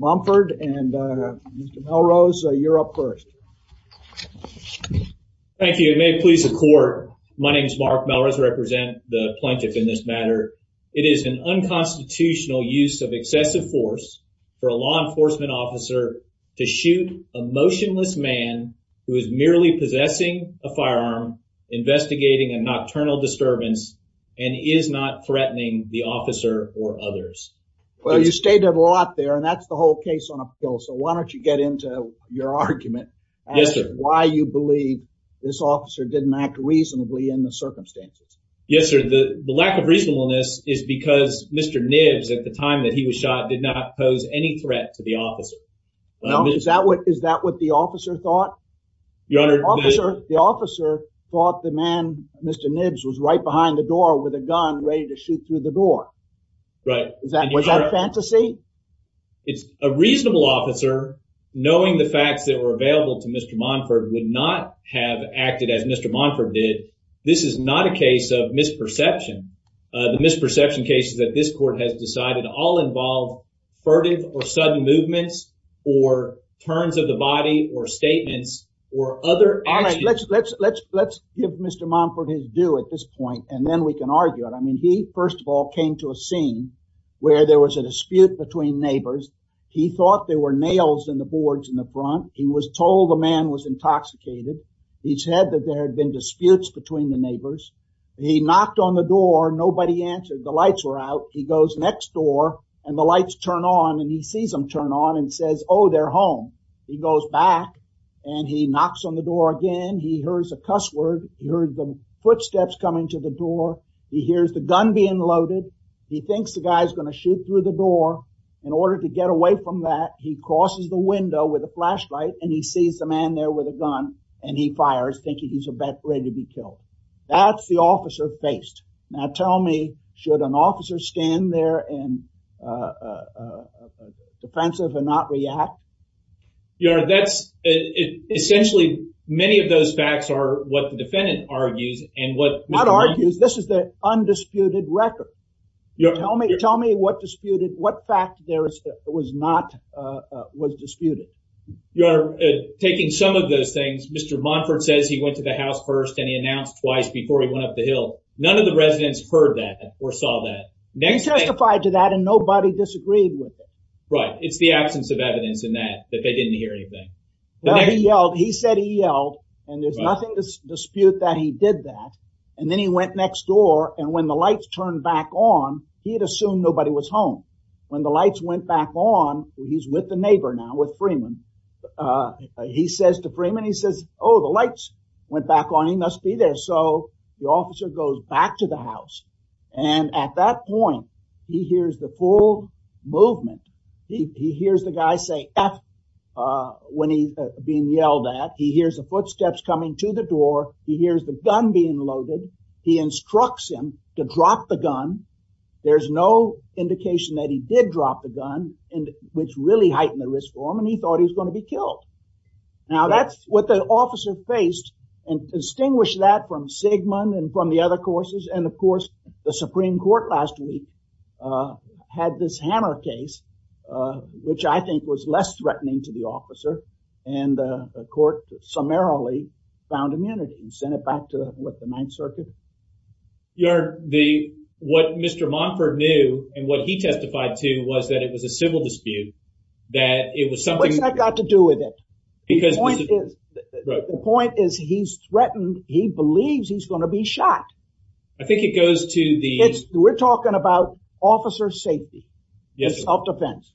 Momphard and Melrose, you're up first. Thank you, and may it please the court. My name is Mark Melrose, I represent the plaintiff in this matter. It is an unconstitutional use of excessive force for a law enforcement officer to shoot a motionless man who is merely possessing a firearm, investigating a nocturnal disturbance, and is not threatening the officer or others. Well, you stated a lot there, and that's the whole case on a bill, so why don't you get into your argument as to why you believe this officer didn't act reasonably in the circumstances. Yes, sir, the lack of reasonableness is because Mr. Knibbs, at the time that he was shot, did not pose any threat to the officer. No, is that what the officer thought? The officer thought the man, Mr. Knibbs, was right behind the door with a gun ready to shoot through the door. Right. Was that fantasy? It's a reasonable officer, knowing the facts that were available to Mr. Momphard, would not have acted as Mr. Momphard did. This is not a case of misperception. The misperception cases that this court has decided all involve furtive or sudden movements, or turns of the body, or his do at this point, and then we can argue it. I mean, he, first of all, came to a scene where there was a dispute between neighbors. He thought there were nails in the boards in the front. He was told the man was intoxicated. He said that there had been disputes between the neighbors. He knocked on the door. Nobody answered. The lights were out. He goes next door, and the lights turn on, and he sees them turn on, and says, oh, they're home. He goes back, and he knocks on the door again. He hears a cuss word. He heard the footsteps coming to the door. He hears the gun being loaded. He thinks the guy's gonna shoot through the door. In order to get away from that, he crosses the window with a flashlight, and he sees the man there with a gun, and he fires, thinking he's about ready to be killed. That's the officer faced. Now tell me, should an officer stand there and defensive and not react? Your Honor, that's, essentially, many of those facts are what the defendant argues and what... Not argues. This is the undisputed record. Tell me, tell me what disputed, what fact there was not, was disputed. Your Honor, taking some of those things, Mr. Monfort says he went to the house first, and he announced twice before he went up the hill. None of the residents heard that or saw that. He testified to that, and nobody disagreed with it. Right. It's the absence of evidence in that, that they didn't hear anything. Well, he yelled. He said he yelled, and there's nothing to dispute that he did that. And then he went next door, and when the lights turned back on, he had assumed nobody was home. When the lights went back on, he's with the neighbor now, with Freeman. He says to Freeman, he says, oh, the lights went back on. He must be there. So the officer goes back to the house, and at that point, he hears the full movement. He hears the guy say F when he's being yelled at. He hears the footsteps coming to the door. He hears the gun being loaded. He instructs him to drop the gun. There's no indication that he did drop the gun, which really heightened the risk for him, and he thought he was going to be killed. Now, that's what the officer faced, and distinguish that from Sigmund and from the other courses, and, of course, the Supreme Court last week had this Hammer case, which I think was less threatening to the officer, and the court summarily found immunity and sent it back to, what, the Ninth Circuit? What Mr. Monford knew and what he testified to was that it was a civil dispute, that it was something... What's that got to do with it? The point is he's threatened. He believes he's going to be shot. I think it goes to the... We're talking about officer safety. Yes. Self-defense.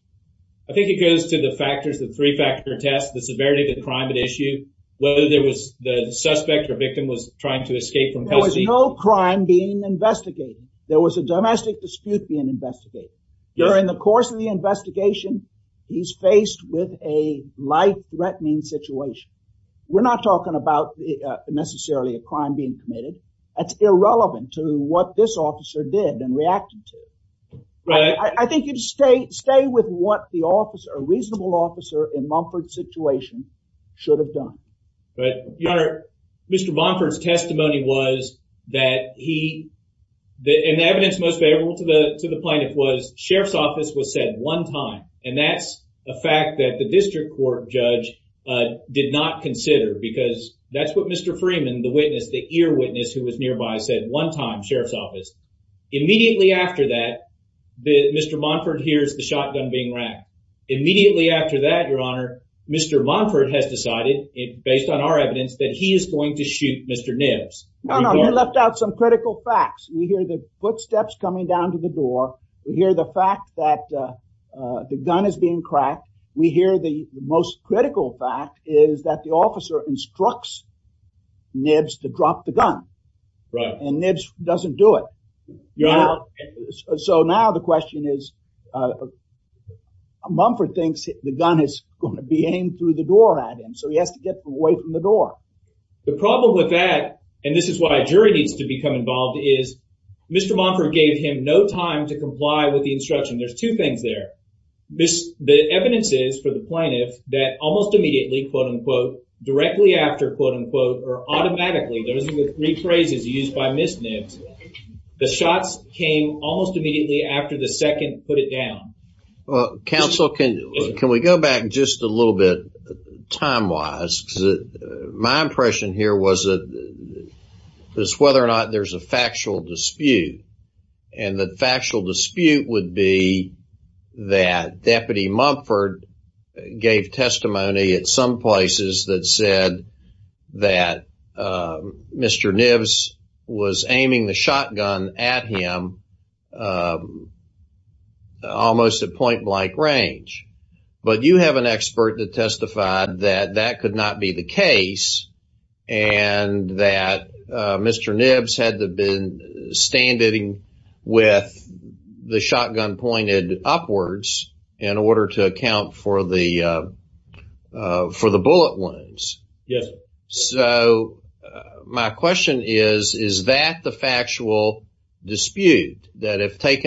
I think it goes to the factors, the three-factor test, the severity of the crime at issue, whether there was the suspect or victim was trying to escape from... There was no crime being investigated. There was a domestic dispute being investigated. During the course of the investigation, he's faced with a life-threatening situation. We're not talking about necessarily a crime being committed. That's irrelevant to what this officer did and reacted to. Right. I think you'd stay with what the officer, a reasonable officer in Monford's situation should have done. Right. Your Honor, Mr. Monford's testimony was that he... The evidence most favorable to the plaintiff was sheriff's office was said one time. That's a fact that the district court judge did not consider because that's what Mr. Freeman, the witness, the ear witness who was nearby said one time, sheriff's office. Immediately after that, Mr. Monford hears the shotgun being racked. Immediately after that, Your Honor, Mr. Monford has decided, based on our evidence, that he is going to shoot Mr. Nibbs. No, no. He left out some critical facts. We hear the footsteps coming down to the door. We hear the fact that the gun is being cracked. We hear the most critical fact is that the officer instructs Nibbs to drop the gun. Right. And Nibbs doesn't do it. Your Honor... So now the question is, Monford thinks the gun is going to be aimed through the door at him, so he has to get away from the door. The problem with that, and this is why a jury needs to become involved, is Mr. Monford gave him no time to comply with the instruction. There's two things there. The evidence is for the plaintiff that almost immediately, quote-unquote, directly after, quote-unquote, or automatically, those are the three phrases used by Ms. Nibbs, the shots came almost immediately after the second put it down. Well, counsel, can we go back just a little bit time-wise? My impression here was that whether or not there's a factual dispute, and the factual dispute would be that Deputy Monford gave testimony at some places that said that Mr. Nibbs was aiming the shotgun at him almost at point-blank range. But you have an expert that testified that that could not be the case and that Mr. Nibbs had to have been standing with the shotgun pointed upwards in order to the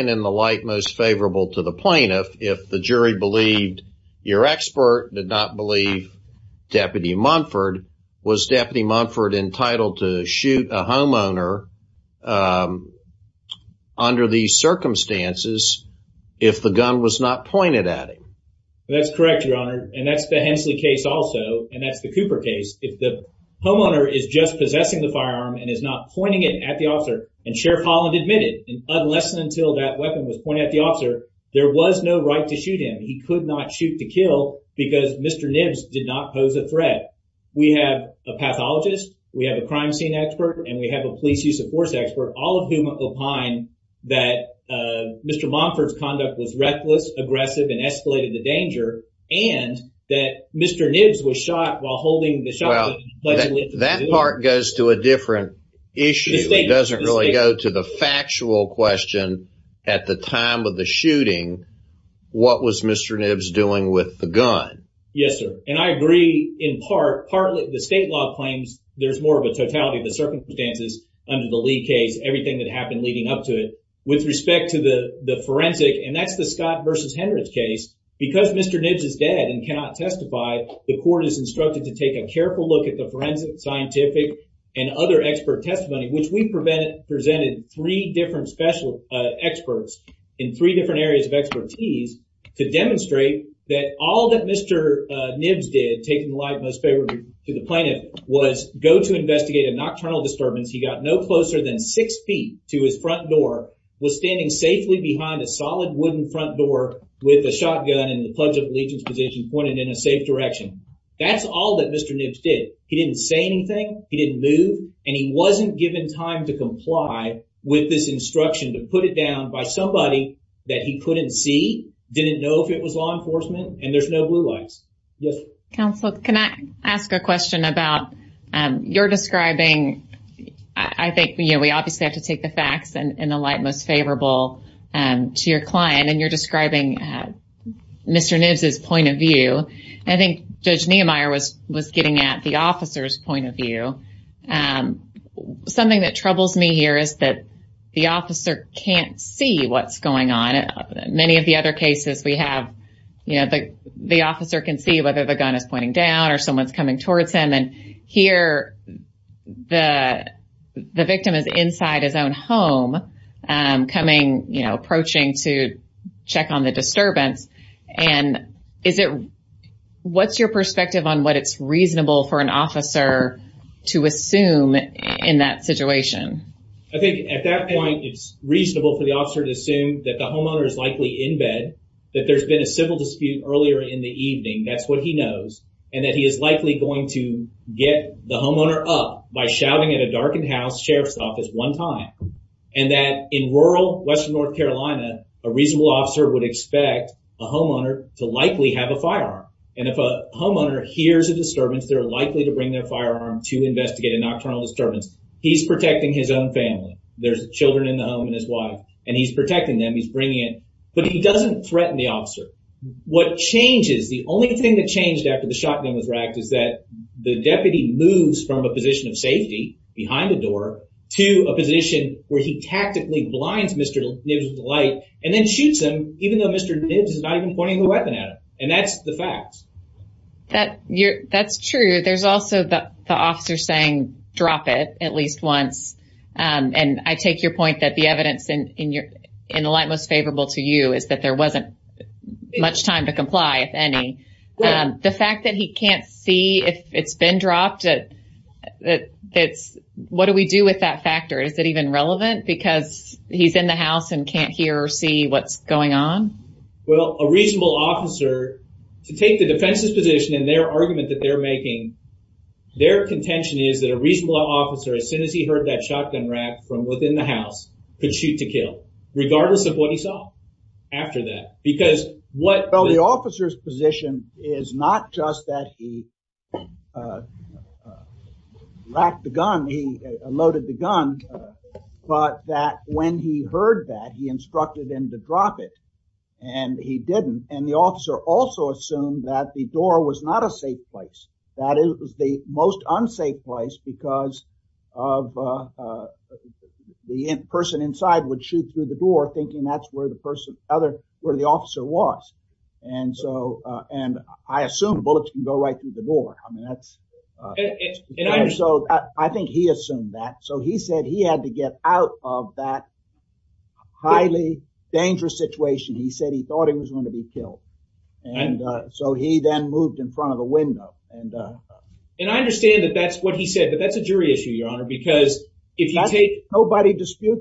light most favorable to the plaintiff, if the jury believed your expert did not believe Deputy Monford, was Deputy Monford entitled to shoot a homeowner under these circumstances if the gun was not pointed at him? That's correct, Your Honor, and that's the Hensley case also, and that's the Cooper case. If the homeowner is just possessing the firearm and is not pointing it at the officer, and Sheriff that weapon was pointed at the officer, there was no right to shoot him. He could not shoot to kill because Mr. Nibbs did not pose a threat. We have a pathologist, we have a crime scene expert, and we have a police use of force expert, all of whom opine that Mr. Monford's conduct was reckless, aggressive, and escalated the danger, and that Mr. Nibbs was shot while holding the shotgun. Well, that part goes to a different issue. It doesn't really go to the factual question at the time of the shooting, what was Mr. Nibbs doing with the gun? Yes, sir, and I agree in part, partly the state law claims there's more of a totality of the circumstances under the Lee case, everything that happened leading up to it. With respect to the forensic, and that's the Scott versus Hendricks case, because Mr. Nibbs is dead and cannot testify, the court is instructed to take a careful look at the forensic, scientific, and other expert testimony, which we presented three different experts in three different areas of expertise to demonstrate that all that Mr. Nibbs did, taking the light most favorably to the plaintiff, was go to investigate a nocturnal disturbance. He got no closer than six feet to his front door, was standing safely behind a solid wooden front door with a shotgun in the Pledge of Allegiance position pointed in a safe direction. That's all that Mr. Nibbs did. He didn't say anything, he didn't move, and he wasn't given time to comply with this instruction to put it down by somebody that he couldn't see, didn't know if it was law enforcement, and there's no blue lights. Yes? Counselor, can I ask a question about your describing, I think, you know, we obviously have to take the facts and the light most favorable to your client, and you're describing Mr. Nibbs' point of view. I think Judge Niemeyer was getting at the officer's point of view. Something that troubles me here is that the officer can't see what's going on. Many of the other cases we have, you know, the officer can see whether the gun is pointing down or someone's coming towards him, and here the victim is inside his own home, coming, you know, approaching to check on the disturbance, and is it, what's your perspective on what it's reasonable for an officer to assume in that situation? I think at that point it's reasonable for the officer to assume that the homeowner is likely in bed, that there's been a civil dispute earlier in the evening, that's what he knows, and that he is likely going to get the homeowner up by shouting at a darkened house sheriff's office one time, and that in rural western North Carolina, a reasonable officer would expect a homeowner to likely have a firearm, and if a homeowner hears a disturbance, they're likely to bring their firearm to investigate a nocturnal disturbance. He's protecting his own family, there's children in the home, and his wife, and he's protecting them, he's bringing it, but he doesn't threaten the officer. What changes, the only thing that changed after the shotgun was racked, is that the deputy moves from a position of safety, behind the door, to a position where he tactically blinds Mr. Nibbs with the light, and then shoots him, even though Mr. Nibbs is not even pointing the weapon at him, and that's the fact. That's true, there's also the officer saying drop it at least once, and I take your point that the evidence in the light most favorable to you is that there wasn't much time to comply, if any. The fact that he can't see if it's been dropped, what do we do with that factor, is it even relevant, because he's in the house and can't hear or see what's going on? Well, a reasonable officer, to take the defense's position in their argument that they're making, their contention is that a reasonable officer, as soon as he heard that shotgun rack from within the house, could shoot to kill, regardless of what he saw after that, because what... is not just that he racked the gun, he loaded the gun, but that when he heard that, he instructed him to drop it, and he didn't, and the officer also assumed that the door was not a safe place, that it was the most unsafe place, because of the person inside would shoot through the door, thinking that's where the officer was, and I assume bullets can go right through the door. I think he assumed that, so he said he had to get out of that highly dangerous situation, he said he thought he was going to be killed, and so he then moved in front of the window. And I understand that that's what he said, but that's a jury issue, Your Honor, because if you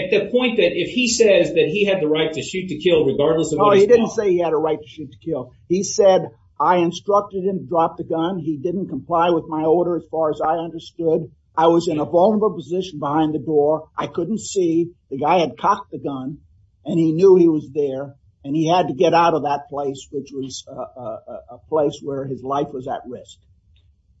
at the point that if he says that he had the right to shoot to kill, regardless of... No, he didn't say he had a right to shoot to kill, he said I instructed him to drop the gun, he didn't comply with my order as far as I understood, I was in a vulnerable position behind the door, I couldn't see, the guy had cocked the gun, and he knew he was there, and he had to get out of that place, which was a place where his life was at risk.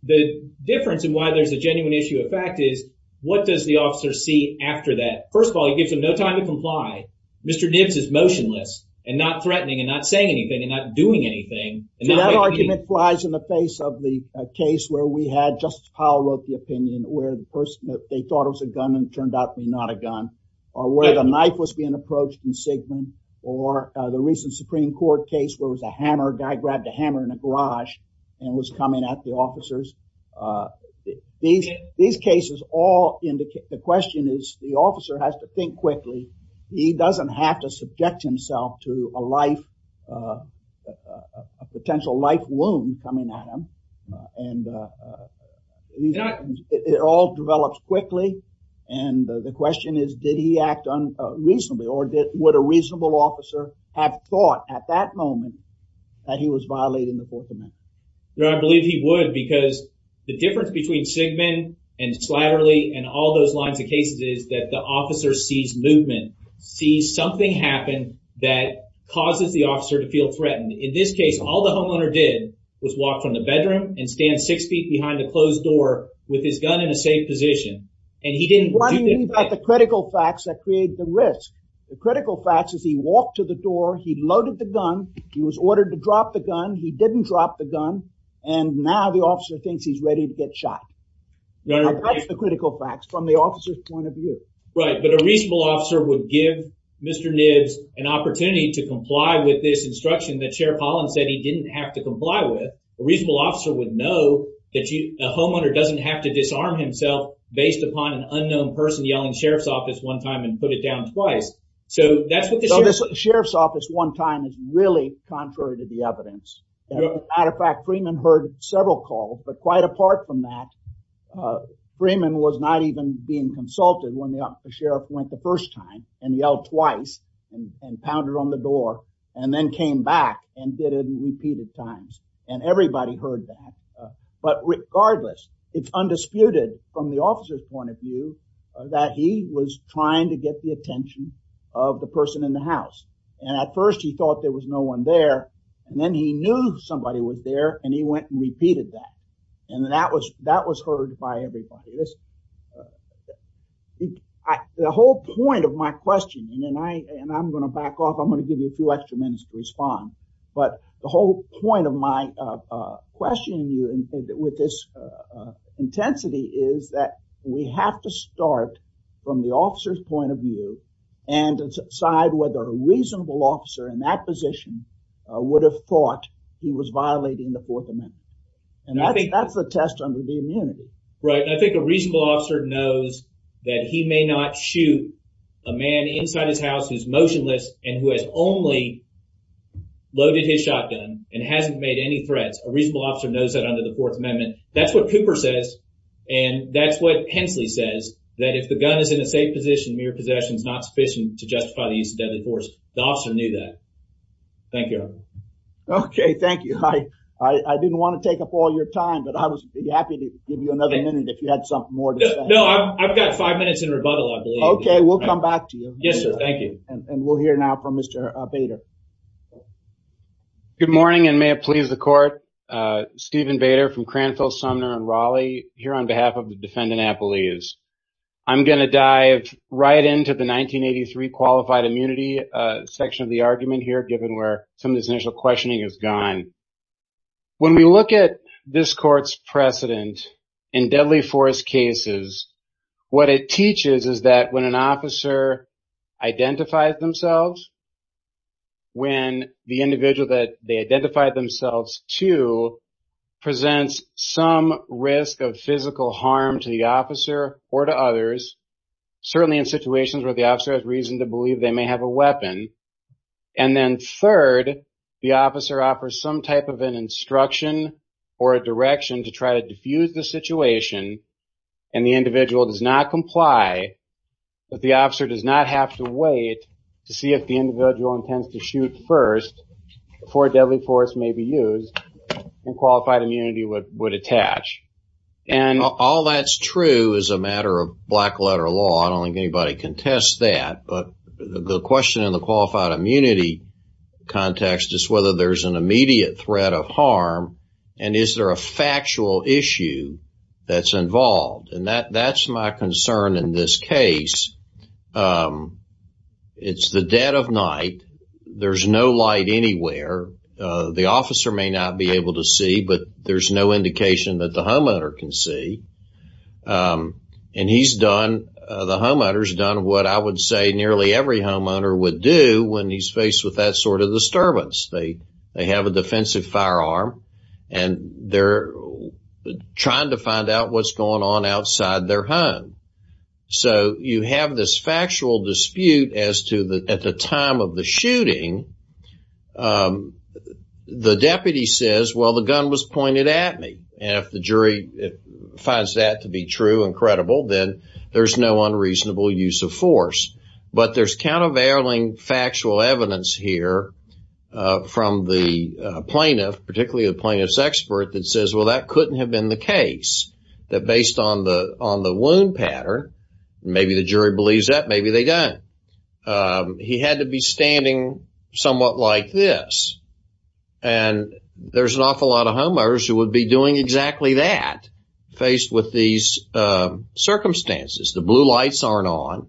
The difference in why there's a genuine issue of fact is, what does the officer see after that? First of all, he gives him no time to comply, Mr. Nibbs is motionless, and not threatening, and not saying anything, and not doing anything, and not making any... That argument flies in the face of the case where we had, Justice Powell wrote the opinion, where the person that they thought was a gunman turned out to be not a gun, or where the knife was being approached in Sigmund, or the recent Supreme Court case where it was a hammer, guy grabbed a hammer in a garage, and was coming at the officers. These cases all indicate, the question is, the officer has to think quickly, he doesn't have to subject himself to a life, a potential life wound coming at him, and it all develops quickly, and the question is, did he act unreasonably, or would a reasonable officer have thought at that moment, that he was violating the Fourth Amendment? No, I believe he would, because the difference between Sigmund, and Slatterly, and all those lines of cases is that the officer sees movement, sees something happen that causes the officer to feel threatened. In this case, all the homeowner did was walk from the bedroom, and stand six feet behind a closed door with his gun in a safe position, and he didn't do that. What I mean by the critical facts that create the risk, the critical facts is he walked to the door, he loaded the gun, he was ordered to drop the gun, he didn't drop the gun, and now the officer thinks he's ready to get shot. That's the critical facts from the officer's point of view. Right, but a reasonable officer would give Mr. Nibbs an opportunity to comply with this instruction that Sheriff Holland said he didn't have to comply with. A reasonable officer would know that a homeowner doesn't have to disarm himself based upon an unknown person yelling Sheriff's Office one time, and put it down twice. So that's what the Sheriff's Office one time is really contrary to the evidence. As a matter of fact, Freeman heard several calls, but quite apart from that, Freeman was not even being consulted when the Sheriff went the first time, and yelled twice, and pounded on the door, and then came back and did it repeated times, and everybody heard that. But regardless, it's undisputed from the attention of the person in the house, and at first he thought there was no one there, and then he knew somebody was there, and he went and repeated that, and that was heard by everybody. The whole point of my question, and I'm going to back off, I'm going to give you a few extra minutes to respond, but the whole point of my questioning you with this intensity is that we have to start from the officer's point of view, and decide whether a reasonable officer in that position would have thought he was violating the Fourth Amendment. And that's the test under the immunity. Right, I think a reasonable officer knows that he may not shoot a man inside his house who's motionless, and who has only loaded his shotgun, and hasn't made any threats. A reasonable officer knows that under the Fourth Amendment. That's what Cooper says, and that's what Hensley says, that if the gun is in a safe position, mere possession is not sufficient to justify the use of deadly force. The officer knew that. Thank you. Okay, thank you. I didn't want to take up all your time, but I was happy to give you another minute if you had something more to say. No, I've got five minutes in rebuttal, I believe. Okay, we'll come back to you. Yes sir, thank you. And we'll hear now from Mr. Bader. Good morning, and may it please the court, here on behalf of the defendant Appelese. I'm going to dive right into the 1983 qualified immunity section of the argument here, given where some of this initial questioning is gone. When we look at this court's precedent in deadly force cases, what it teaches is that when an officer identifies themselves, when the individual that they identify themselves to, presents some risk of physical harm to the officer or to others, certainly in situations where the officer has reason to believe they may have a weapon, and then third, the officer offers some type of an instruction or a direction to try to diffuse the situation, and the individual does not comply, but the officer does not have to wait to see if the individual intends to shoot first, before deadly force may be used, and qualified immunity would attach. And all that's true as a matter of black letter law, I don't think anybody contests that, but the question in the qualified immunity context is whether there's an immediate threat of harm, and is there a factual issue that's involved? And that's my concern in this case. It's the dead of night, there's no light anywhere, the officer may not be able to see, but there's no indication that the homeowner can see, and he's done, the homeowner's done what I would say nearly every homeowner would do when he's faced with that sort of disturbance. They have a defensive firearm, and they're trying to find out what's going on outside their home. So you have this factual dispute as to, at the time of the shooting, the deputy says, well, the gun was pointed at me, and if the jury finds that to be true and credible, then there's no unreasonable use of force. But there's countervailing factual evidence here from the plaintiff, particularly the plaintiff's expert, that says, well, that couldn't have been the case, that based on the wound pattern, maybe the jury believes that, maybe they don't. He had to be standing somewhat like this. And there's an awful lot of homeowners who would be doing exactly that, faced with these circumstances. The blue lights aren't on.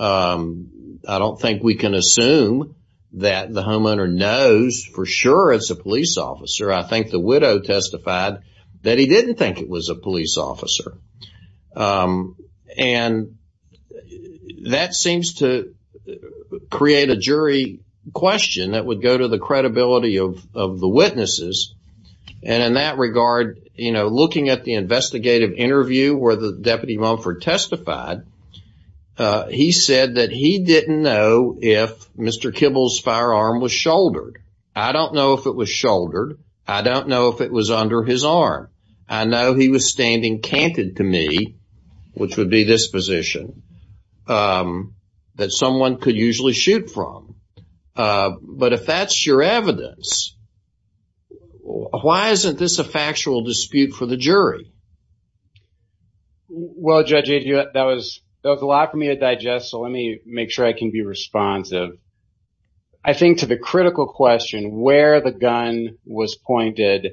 I don't think we can assume that the homeowner knows for sure it's a police officer. I think the widow testified that he didn't think it was a police officer. And that seems to create a jury question that would go to the credibility of the witnesses. And in that regard, you know, looking at the investigative interview where the deputy Mumford testified, he said that he didn't know if Mr. Kibble's firearm was shouldered. I don't know if it was shouldered. I don't know if it was under his arm. I know he was standing canted to me, which would be this position, that someone could usually shoot from. But if that's your evidence, why isn't this a factual dispute for the jury? Well, Judge, that was a lot for me to digest, so let me make sure I can be responsive. I think to the critical question, where the gun was pointed,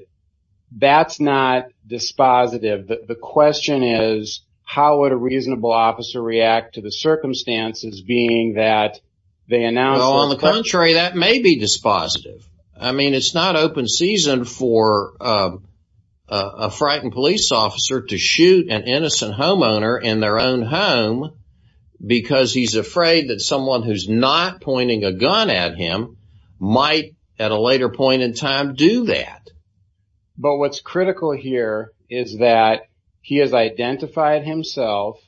that's not dispositive. The question is, how would a reasonable officer react to the circumstances being that they announced? Well, on the contrary, that may be dispositive. I mean, it's not open season for a frightened police officer to shoot an innocent homeowner in their own home because he's afraid that someone who's not pointing a gun at him might at a later point in time do that. But what's critical here is that he has identified himself,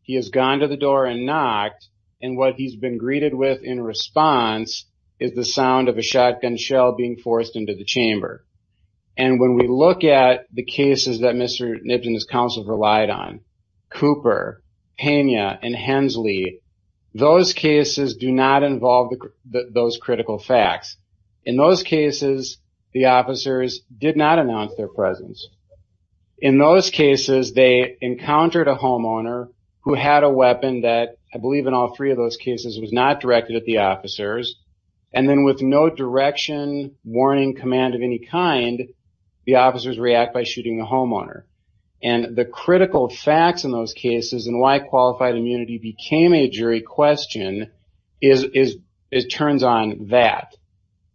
he has gone to the door and knocked, and what he's been greeted with in response is the sound of a shotgun shell being forced into the chamber. And when we look at the cases that Mr. Nibbs and his counsel have relied on, Cooper, Pena, and Hensley, those cases do not involve those critical facts. In those cases, the officers did not announce their presence. In those cases, they encountered a homeowner who had a weapon that, I believe in all three of those cases, was not directed at the officers, and then with no direction, warning, command of any kind, the officers react by shooting the homeowner. And the critical facts in those cases and why qualified immunity became a jury question is, it turns on that.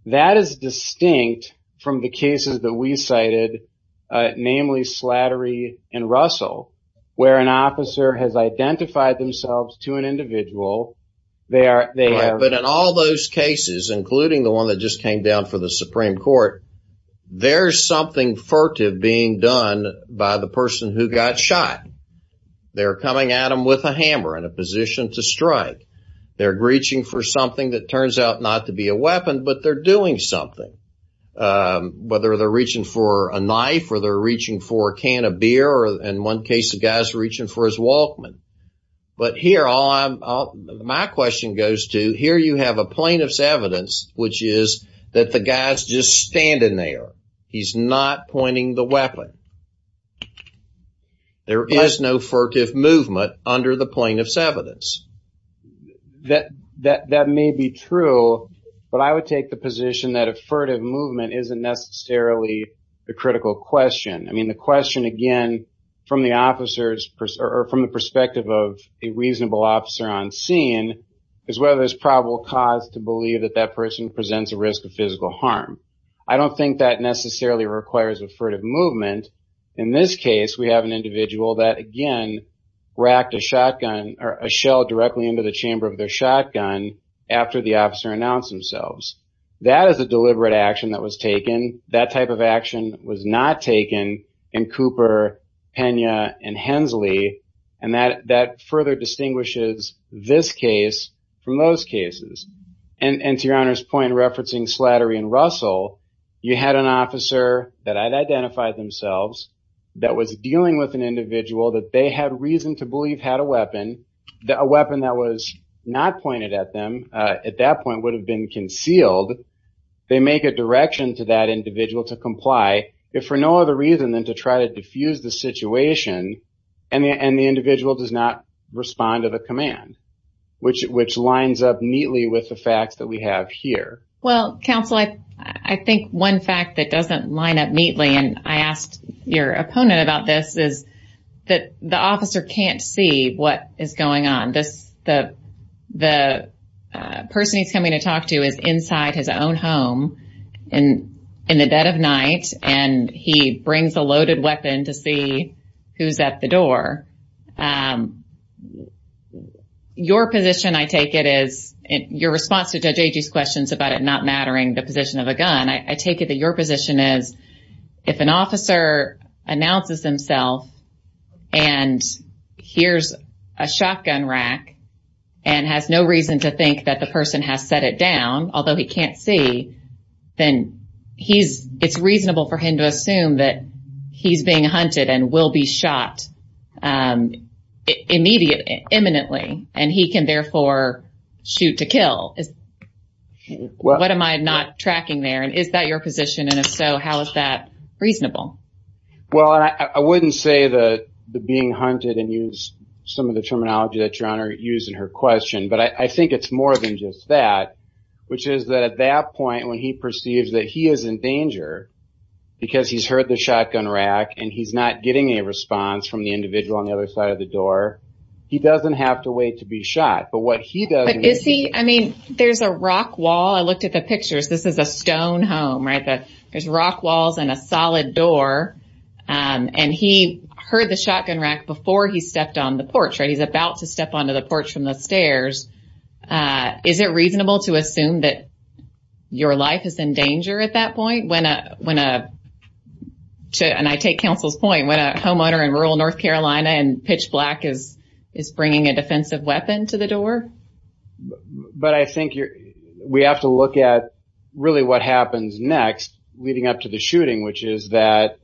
That is distinct from the cases that we cited, namely Slattery and Russell, where an officer has identified themselves to an individual, they are... I just came down for the Supreme Court. There's something furtive being done by the person who got shot. They're coming at him with a hammer in a position to strike. They're reaching for something that turns out not to be a weapon, but they're doing something. Whether they're reaching for a knife, or they're reaching for a can of beer, or in one case, the guy's reaching for his Walkman. But here, my question goes to, here you have a plaintiff's evidence, which is that the guy's just standing there. He's not pointing the weapon. There is no furtive movement under the plaintiff's evidence. That may be true, but I would take the position that a furtive movement isn't necessarily the critical question. The question, again, from the perspective of a reasonable officer on scene, is whether there's probable cause to believe that that person presents a risk of physical harm. I don't think that necessarily requires a furtive movement. In this case, we have an individual that, again, racked a shotgun or a shell directly into the chamber of their shotgun after the officer announced themselves. That is a deliberate action that was taken. That type of action was not taken in Cooper, Pena, and Hensley, and that further distinguishes this case from those cases. And to your Honor's point, referencing Slattery and Russell, you had an officer that had identified themselves that was dealing with an individual that they had reason to believe had a weapon, a weapon that was not pointed at them at that point would have been concealed. They make a direction to that individual to comply, if for no other reason than to try to diffuse the situation, and the individual does not respond to the command, which lines up neatly with the facts that we have here. Well, counsel, I think one fact that doesn't line up neatly, and I asked your opponent about this, is that the officer can't see what is going on. The person he's coming to talk to is inside his own home in the dead of night, and he brings a loaded weapon to see who's at the door. Your position, I take it, is your response to Judge Agee's questions about it not mattering the position of a gun, I take it that your position is if an officer announces himself and hears a shotgun rack and has no reason to think that the person has set it down, although he can't see, then it's reasonable for him to assume that he's being hunted and will be tracking there. Is that your position, and if so, how is that reasonable? Well, I wouldn't say being hunted and use some of the terminology that your Honor used in her question, but I think it's more than just that, which is that at that point when he perceives that he is in danger because he's heard the shotgun rack and he's not getting a response from the individual on the other side of the door, he doesn't have to wait to be shot. Is he? I mean, there's a rock wall. I looked at the pictures. This is a stone home, right? There's rock walls and a solid door, and he heard the shotgun rack before he stepped on the porch, right? He's about to step onto the porch from the stairs. Is it reasonable to assume that your life is in danger at that point when, and I take counsel's point, when a homeowner in rural But I think we have to look at really what happens next leading up to the shooting, which is that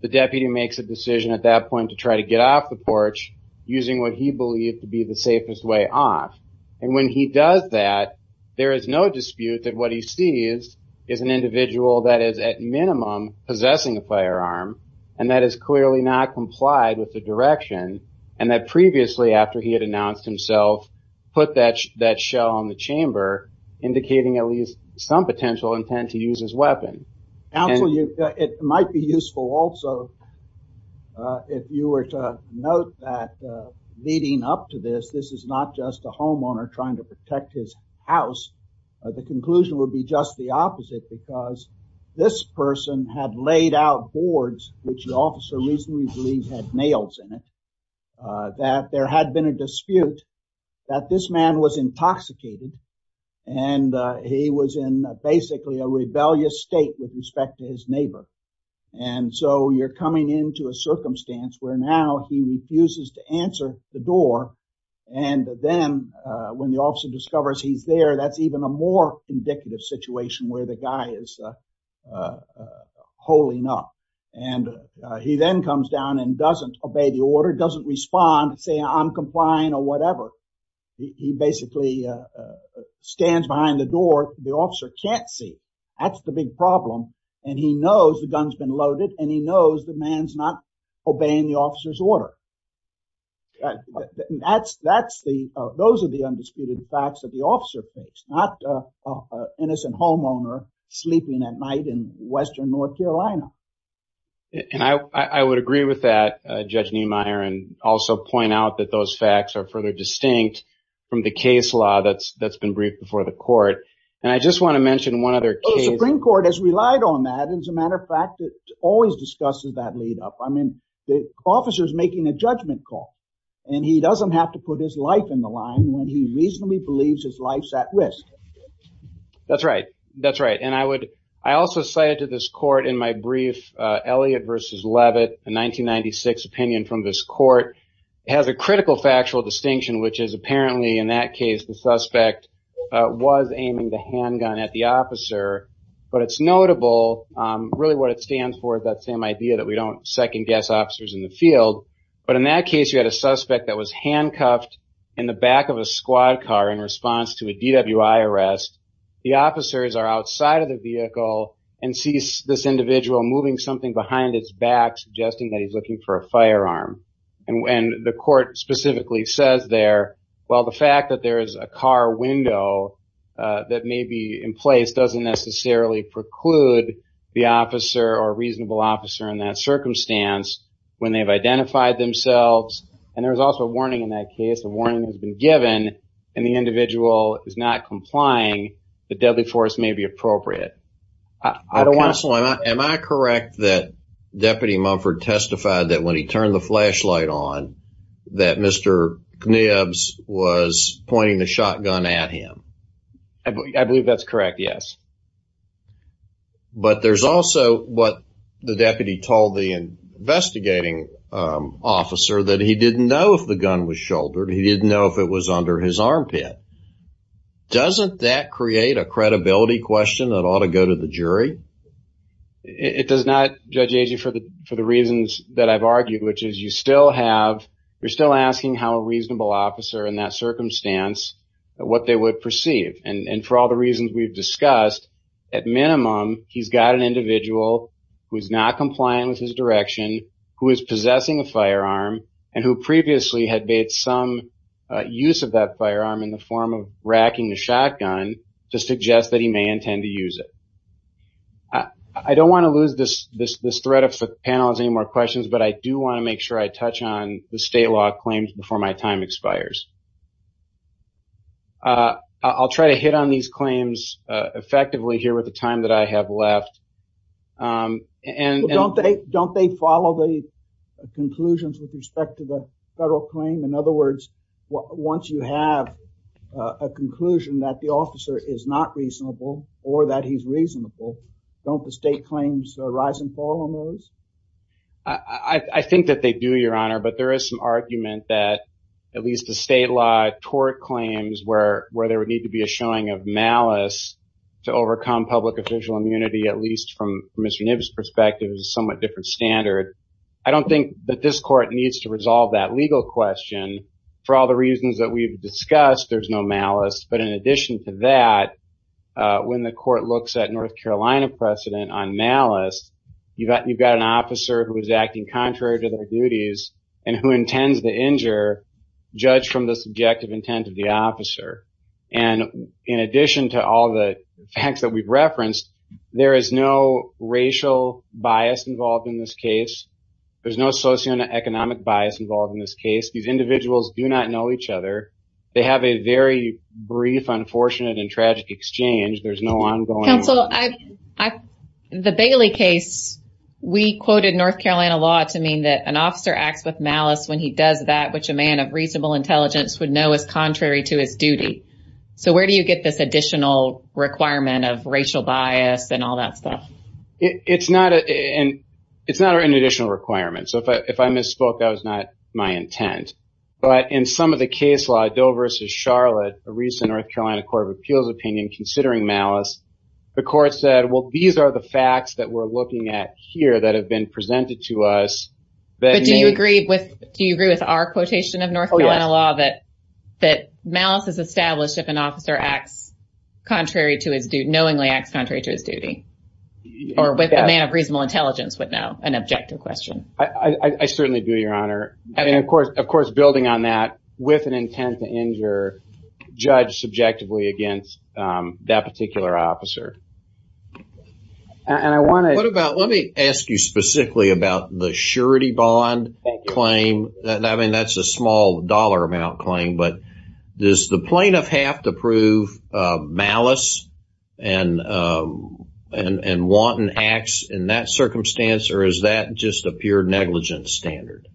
the deputy makes a decision at that point to try to get off the porch using what he believed to be the safest way off, and when he does that, there is no dispute that what he sees is an individual that is at minimum possessing a firearm and that is clearly not put that shell on the chamber indicating at least some potential intent to use his weapon. It might be useful also if you were to note that leading up to this, this is not just a homeowner trying to protect his house. The conclusion would be just the opposite because this person had laid out boards, which the officer reasonably believes had nails in it, that there had been a dispute that this man was intoxicated and he was in basically a rebellious state with respect to his neighbor, and so you're coming into a circumstance where now he refuses to answer the door, and then when the officer discovers he's there, that's even a more indicative situation where the guy is holing up, and he then comes down and doesn't obey the order, doesn't respond, say, I'm complying or whatever. He basically stands behind the door. The officer can't see. That's the big problem, and he knows the gun's been loaded, and he knows the man's not obeying the officer's order. Those are the undisputed facts that the officer takes, not an innocent homeowner sleeping at night in western North Carolina. And I would agree with that, Judge Niemeyer, and also point out that those facts are further distinct from the case law that's been briefed before the court, and I just want to mention one other case. The Supreme Court has relied on that. As a matter of fact, it always discusses that lead up. I mean, the officer's making a judgment call, and he doesn't have to put his life in the line when he reasonably believes his life's at risk. That's right, that's right, and I would, to this court in my brief, Elliot versus Levitt, a 1996 opinion from this court, has a critical factual distinction, which is apparently in that case the suspect was aiming the handgun at the officer, but it's notable, really what it stands for is that same idea that we don't second guess officers in the field, but in that case you had a suspect that was handcuffed in the back of a squad car in response to a DWI arrest. The officers are and sees this individual moving something behind its back, suggesting that he's looking for a firearm, and when the court specifically says there, well, the fact that there is a car window that may be in place doesn't necessarily preclude the officer or reasonable officer in that circumstance when they've identified themselves, and there's also a warning in that case, a warning has been given, and the individual is not complying, the deadly force may be appropriate. Counsel, am I correct that Deputy Mumford testified that when he turned the flashlight on that Mr. Knibbs was pointing the shotgun at him? I believe that's correct, yes. But there's also what the deputy told the investigating officer that he didn't know if the gun was shouldered, he didn't know if it was under his armpit. Doesn't that create a credibility question that ought to go to the jury? It does not, Judge Agee, for the reasons that I've argued, which is you still have, you're still asking how a reasonable officer in that circumstance, what they would perceive, and for all the reasons we've discussed, at minimum, he's got an individual who's not compliant with his direction, who is possessing a firearm, and who previously had made some use of that firearm in the form of racking the shotgun, to suggest that he may intend to use it. I don't want to lose this thread if the panel has any more questions, but I do want to make sure I touch on the state law claims before my time expires. I'll try to hit on these claims effectively here with the time that I have left. Don't they follow the conclusions with respect to the federal claim? In other words, once you have a conclusion that the officer is not reasonable, or that he's reasonable, don't the state claims rise and fall on those? I think that they do, Your Honor, but there is some argument that at least the state law tort claims where there would need to be a showing of malice to overcome public official immunity, at least from Mr. Nibb's perspective, is a somewhat different standard. I don't think that this court needs to resolve that legal question. For all the reasons that we've discussed, there's no malice, but in addition to that, when the court looks at North Carolina precedent on malice, you've got an officer who is acting contrary to their duties, and who intends to injure, judge from the subjective intent of the officer. In addition to all the facts that we've referenced, there is no racial bias involved in this case. There's no socioeconomic bias involved in this case. These individuals do not know each other. They have a very brief, unfortunate, and tragic exchange. There's no ongoing- Counsel, the Bailey case, we quoted North Carolina law to mean that an officer acts with malice when he does that, which a man of reasonable intelligence would know is contrary to his duty. Where do you get this additional requirement of racial bias and all that stuff? It's not an additional requirement. If I misspoke, that was not my intent. In some of the case law, Doe v. Charlotte, a recent North Carolina Court of Appeals opinion, considering malice, the court said, well, these are the facts that we're looking at here that have been presented to us that- Do you agree with our quotation of North Carolina law that malice is established if an officer acts contrary to his duty, knowingly acts contrary to his duty, or with a man of reasonable intelligence would know, an objective question? I certainly do, Your Honor. Of course, building on that, with an intent to injure, judge subjectively against that particular officer. What about, let me ask you specifically about the surety bond claim. I mean, that's a small dollar amount claim, but does the plaintiff have to prove malice and wanton acts in that circumstance, or is that just a pure negligence standard?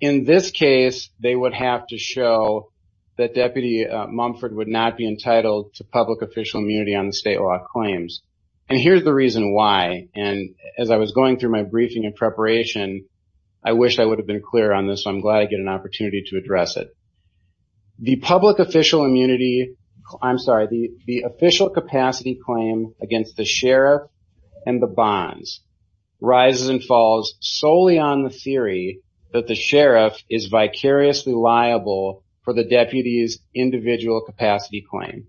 In this case, they would have to show that Deputy Mumford would not be entitled to public official immunity on the state law claims. And here's the reason why, and as I was going through my briefing in preparation, I wish I would have been clear on this, so I'm glad I get an opportunity to address it. The public official immunity, I'm sorry, the official capacity claim against the sheriff and the bonds rises and falls solely on the theory that the sheriff is vicariously liable for the deputy's individual capacity claim.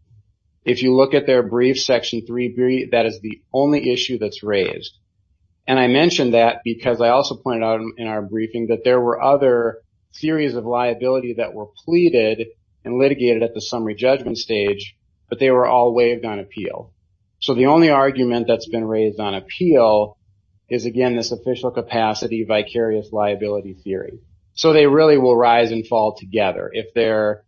If you look at their brief section three, that is the only issue that's raised. And I mentioned that because I also pointed out in our briefing that there were other theories of liability that were pleaded and litigated at the summary judgment stage, but they were all waived on appeal. So the only argument that's been raised on appeal is again, this official capacity vicarious liability theory. So they really will rise and fall together if they're,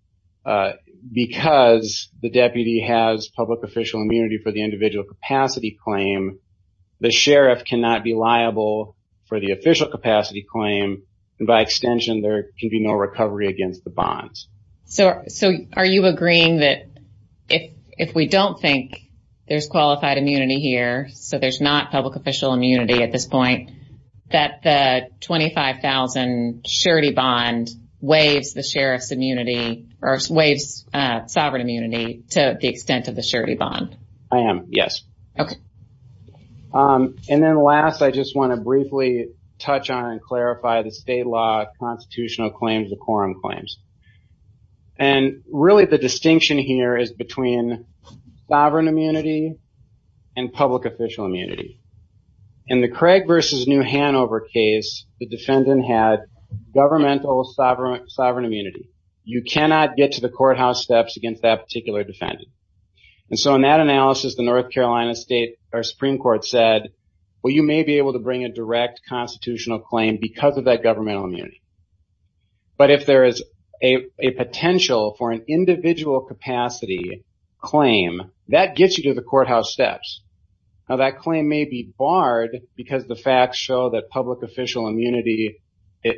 because the deputy has public official immunity for the individual capacity claim, the sheriff cannot be liable for the official capacity claim. And by extension, there can be no recovery against the bonds. So are you agreeing that if we don't think there's qualified immunity here, so there's not public official immunity at this point, that the 25,000 surety bond waives the sheriff's immunity or waives sovereign immunity to the extent of the surety bond? I am. Yes. Okay. And then last, I just want to briefly touch on and clarify the state law constitutional claims, the quorum claims. And really the distinction here is between sovereign immunity and public official immunity. And the Craig versus new Hanover case, the defendant had governmental sovereign, sovereign immunity. You cannot get to the courthouse steps against that particular defendant. And so in that analysis, the North Carolina state or Supreme court said, well, you may be able to bring a direct constitutional claim because of that governmental immunity. But if there is a potential for an individual capacity claim that gets you to the courthouse steps. Now that claim may be barred because the facts show that public official immunity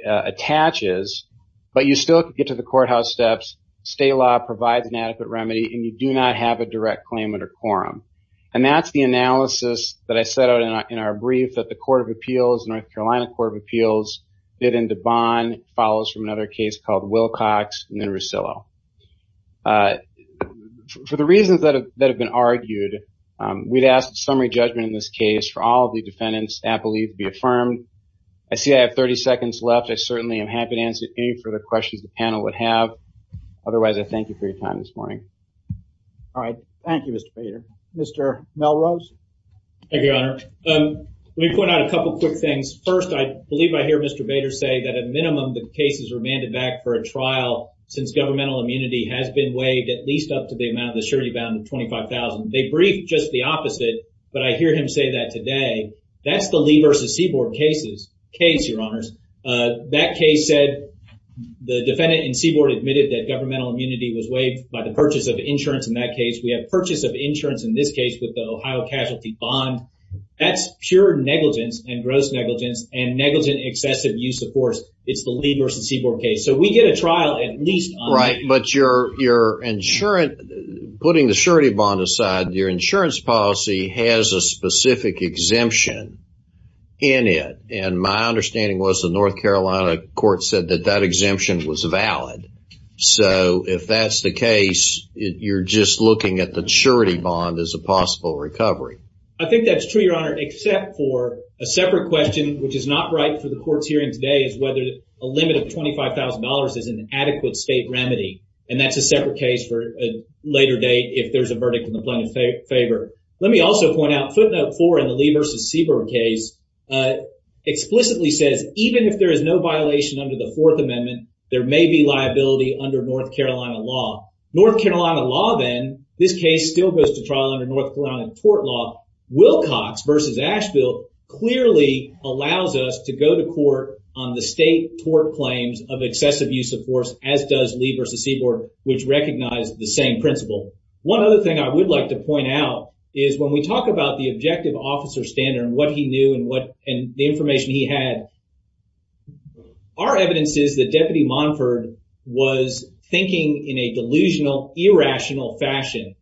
attaches, but you still get to the courthouse steps. State law provides an adequate remedy and you do not have a direct claim under quorum. And that's the analysis that I set out in our brief that the court of appeals, North Carolina court of appeals did into bond follows from another case called Wilcox and we'd asked summary judgment in this case for all of the defendants that believe to be affirmed. I see I have 30 seconds left. I certainly am happy to answer any further questions the panel would have. Otherwise, I thank you for your time this morning. All right. Thank you, Mr. Bader. Mr. Melrose. Thank you, Your Honor. Let me point out a couple of quick things. First, I believe I hear Mr. Bader say that at minimum, the cases are mandated back for a trial since governmental immunity has been weighed at least up to the amount of the surety bound of 25,000. They just the opposite. But I hear him say that today. That's the Lee versus Seaboard cases case, Your Honors. That case said the defendant in Seaboard admitted that governmental immunity was weighed by the purchase of insurance. In that case, we have purchase of insurance in this case with the Ohio casualty bond. That's pure negligence and gross negligence and negligent excessive use of force. It's the Lee versus Seaboard case. So we get a trial at least. Right. But you're insurance, putting the surety bond aside, your insurance policy has a specific exemption in it. And my understanding was the North Carolina court said that that exemption was valid. So if that's the case, you're just looking at the surety bond as a possible recovery. I think that's true, Your Honor, except for a separate question, which is not right for the court's hearing today, is whether a limit of $25,000 is an adequate state remedy. And that's a separate case for a later date if there's a verdict in the plaintiff's favor. Let me also point out footnote four in the Lee versus Seaboard case explicitly says even if there is no violation under the Fourth Amendment, there may be liability under North Carolina law. North Carolina law, then, this case still goes to trial under North Carolina tort law. Wilcox versus Asheville clearly allows us to go to court on the state tort claims of excessive use of force, as does Lee versus Seaboard, which recognize the same principle. One other thing I would like to point out is when we talk about the objective officer standard and what he knew and the information he had, our evidence is that Deputy Monford was thinking in a delusional, irrational fashion.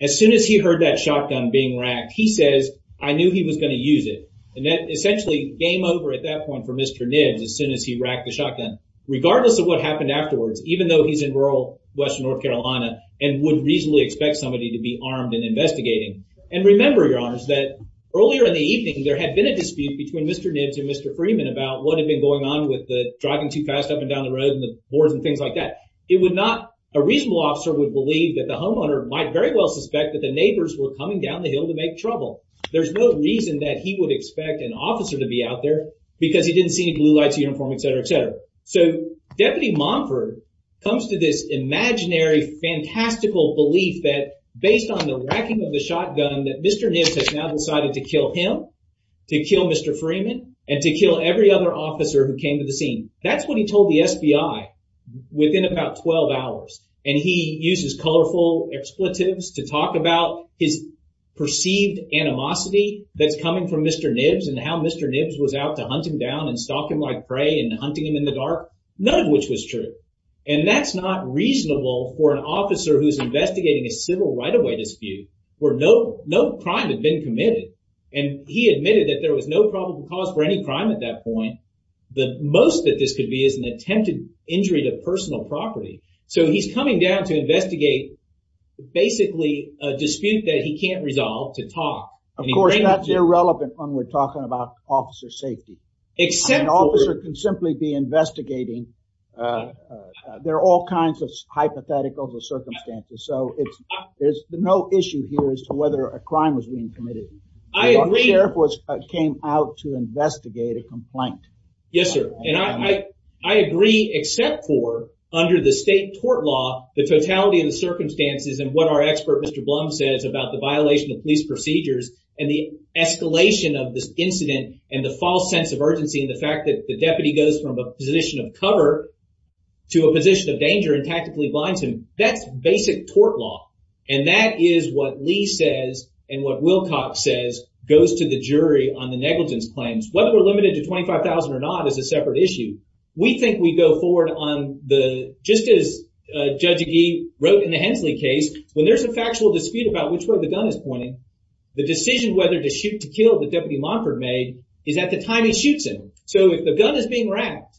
As soon as he heard that shotgun being racked, he says, I knew he was going to use it. And that essentially game over at that point for Mr. Nibbs as soon as he racked the shotgun. Regardless of what happened afterwards, even though he's in rural Western North Carolina and would reasonably expect somebody to be armed and investigating. And remember, your honors, that earlier in the evening, there had been a dispute between Mr. Nibbs and Mr. Freeman about what had been going on with the driving too fast up and down the road and the boards and things like that. It would not, a reasonable officer would believe that the homeowner might very well suspect that the neighbors were coming down the hill to make trouble. There's no reason that he would expect an officer to be out there because he didn't see any blue lights, uniform, et cetera, et cetera. So Deputy Monford comes to this imaginary fantastical belief that based on the racking of the shotgun that Mr. Nibbs has now decided to kill him, to kill Mr. Freeman, and to kill every other officer who came to the scene. That's what he told the SBI within about 12 hours. And he uses colorful expletives to talk about his perceived animosity that's coming from Mr. Nibbs and how Mr. Nibbs was out to hunt him down and stalk him like prey and hunting him in the dark. None of which was true. And that's not reasonable for an officer who's investigating a civil right-of-way dispute where no crime had been committed. And he admitted that there was no probable cause for any crime at that point. The most that this could be is an attempted injury to personal property. So he's coming down to investigate basically a dispute that he can't resolve to talk. Of course, that's irrelevant when we're talking about officer safety. An officer can simply be investigating. There are all kinds of hypotheticals or circumstances. So there's no issue here as to whether a crime was being committed. The sheriff came out to investigate a complaint. Yes, sir. And I agree except for under the state tort law, the totality of the circumstances and what our expert Mr. Blum says about the violation of police procedures and the escalation of this incident and the false sense of urgency and the fact that the deputy goes from a position of cover to a position of danger and tactically blinds him. That's basic tort law. And that is what Lee says and what Wilcox says goes to the jury on the negligence claims. Whether we're limited to $25,000 or not is a separate issue. We think we go forward on the, just as Judge Agee wrote in the Hensley case, when there's a factual dispute about which side of the gun is pointing, the decision whether to shoot to kill that Deputy Monford made is at the time he shoots him. So if the gun is being racked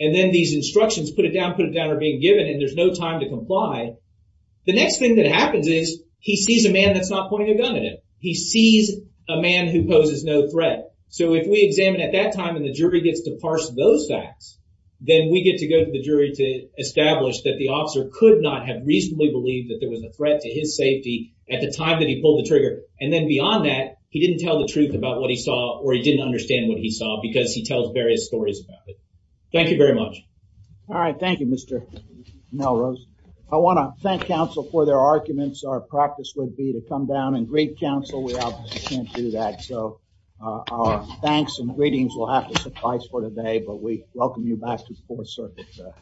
and then these instructions put it down, put it down or being given and there's no time to comply, the next thing that happens is he sees a man that's not pointing a gun at him. He sees a man who poses no threat. So if we examine at that time and the jury gets to parse those facts, then we get to go to the jury to establish that the officer could not have reasonably believed that there was a threat to his safety at the time that he pulled the trigger. And then beyond that, he didn't tell the truth about what he saw or he didn't understand what he saw because he tells various stories about it. Thank you very much. All right. Thank you, Mr. Melrose. I want to thank counsel for their arguments. Our practice would be to come down and greet counsel. We obviously can't do that. So our thanks and greetings will have to suffice for today, but we welcome you back to the Fourth Circuit.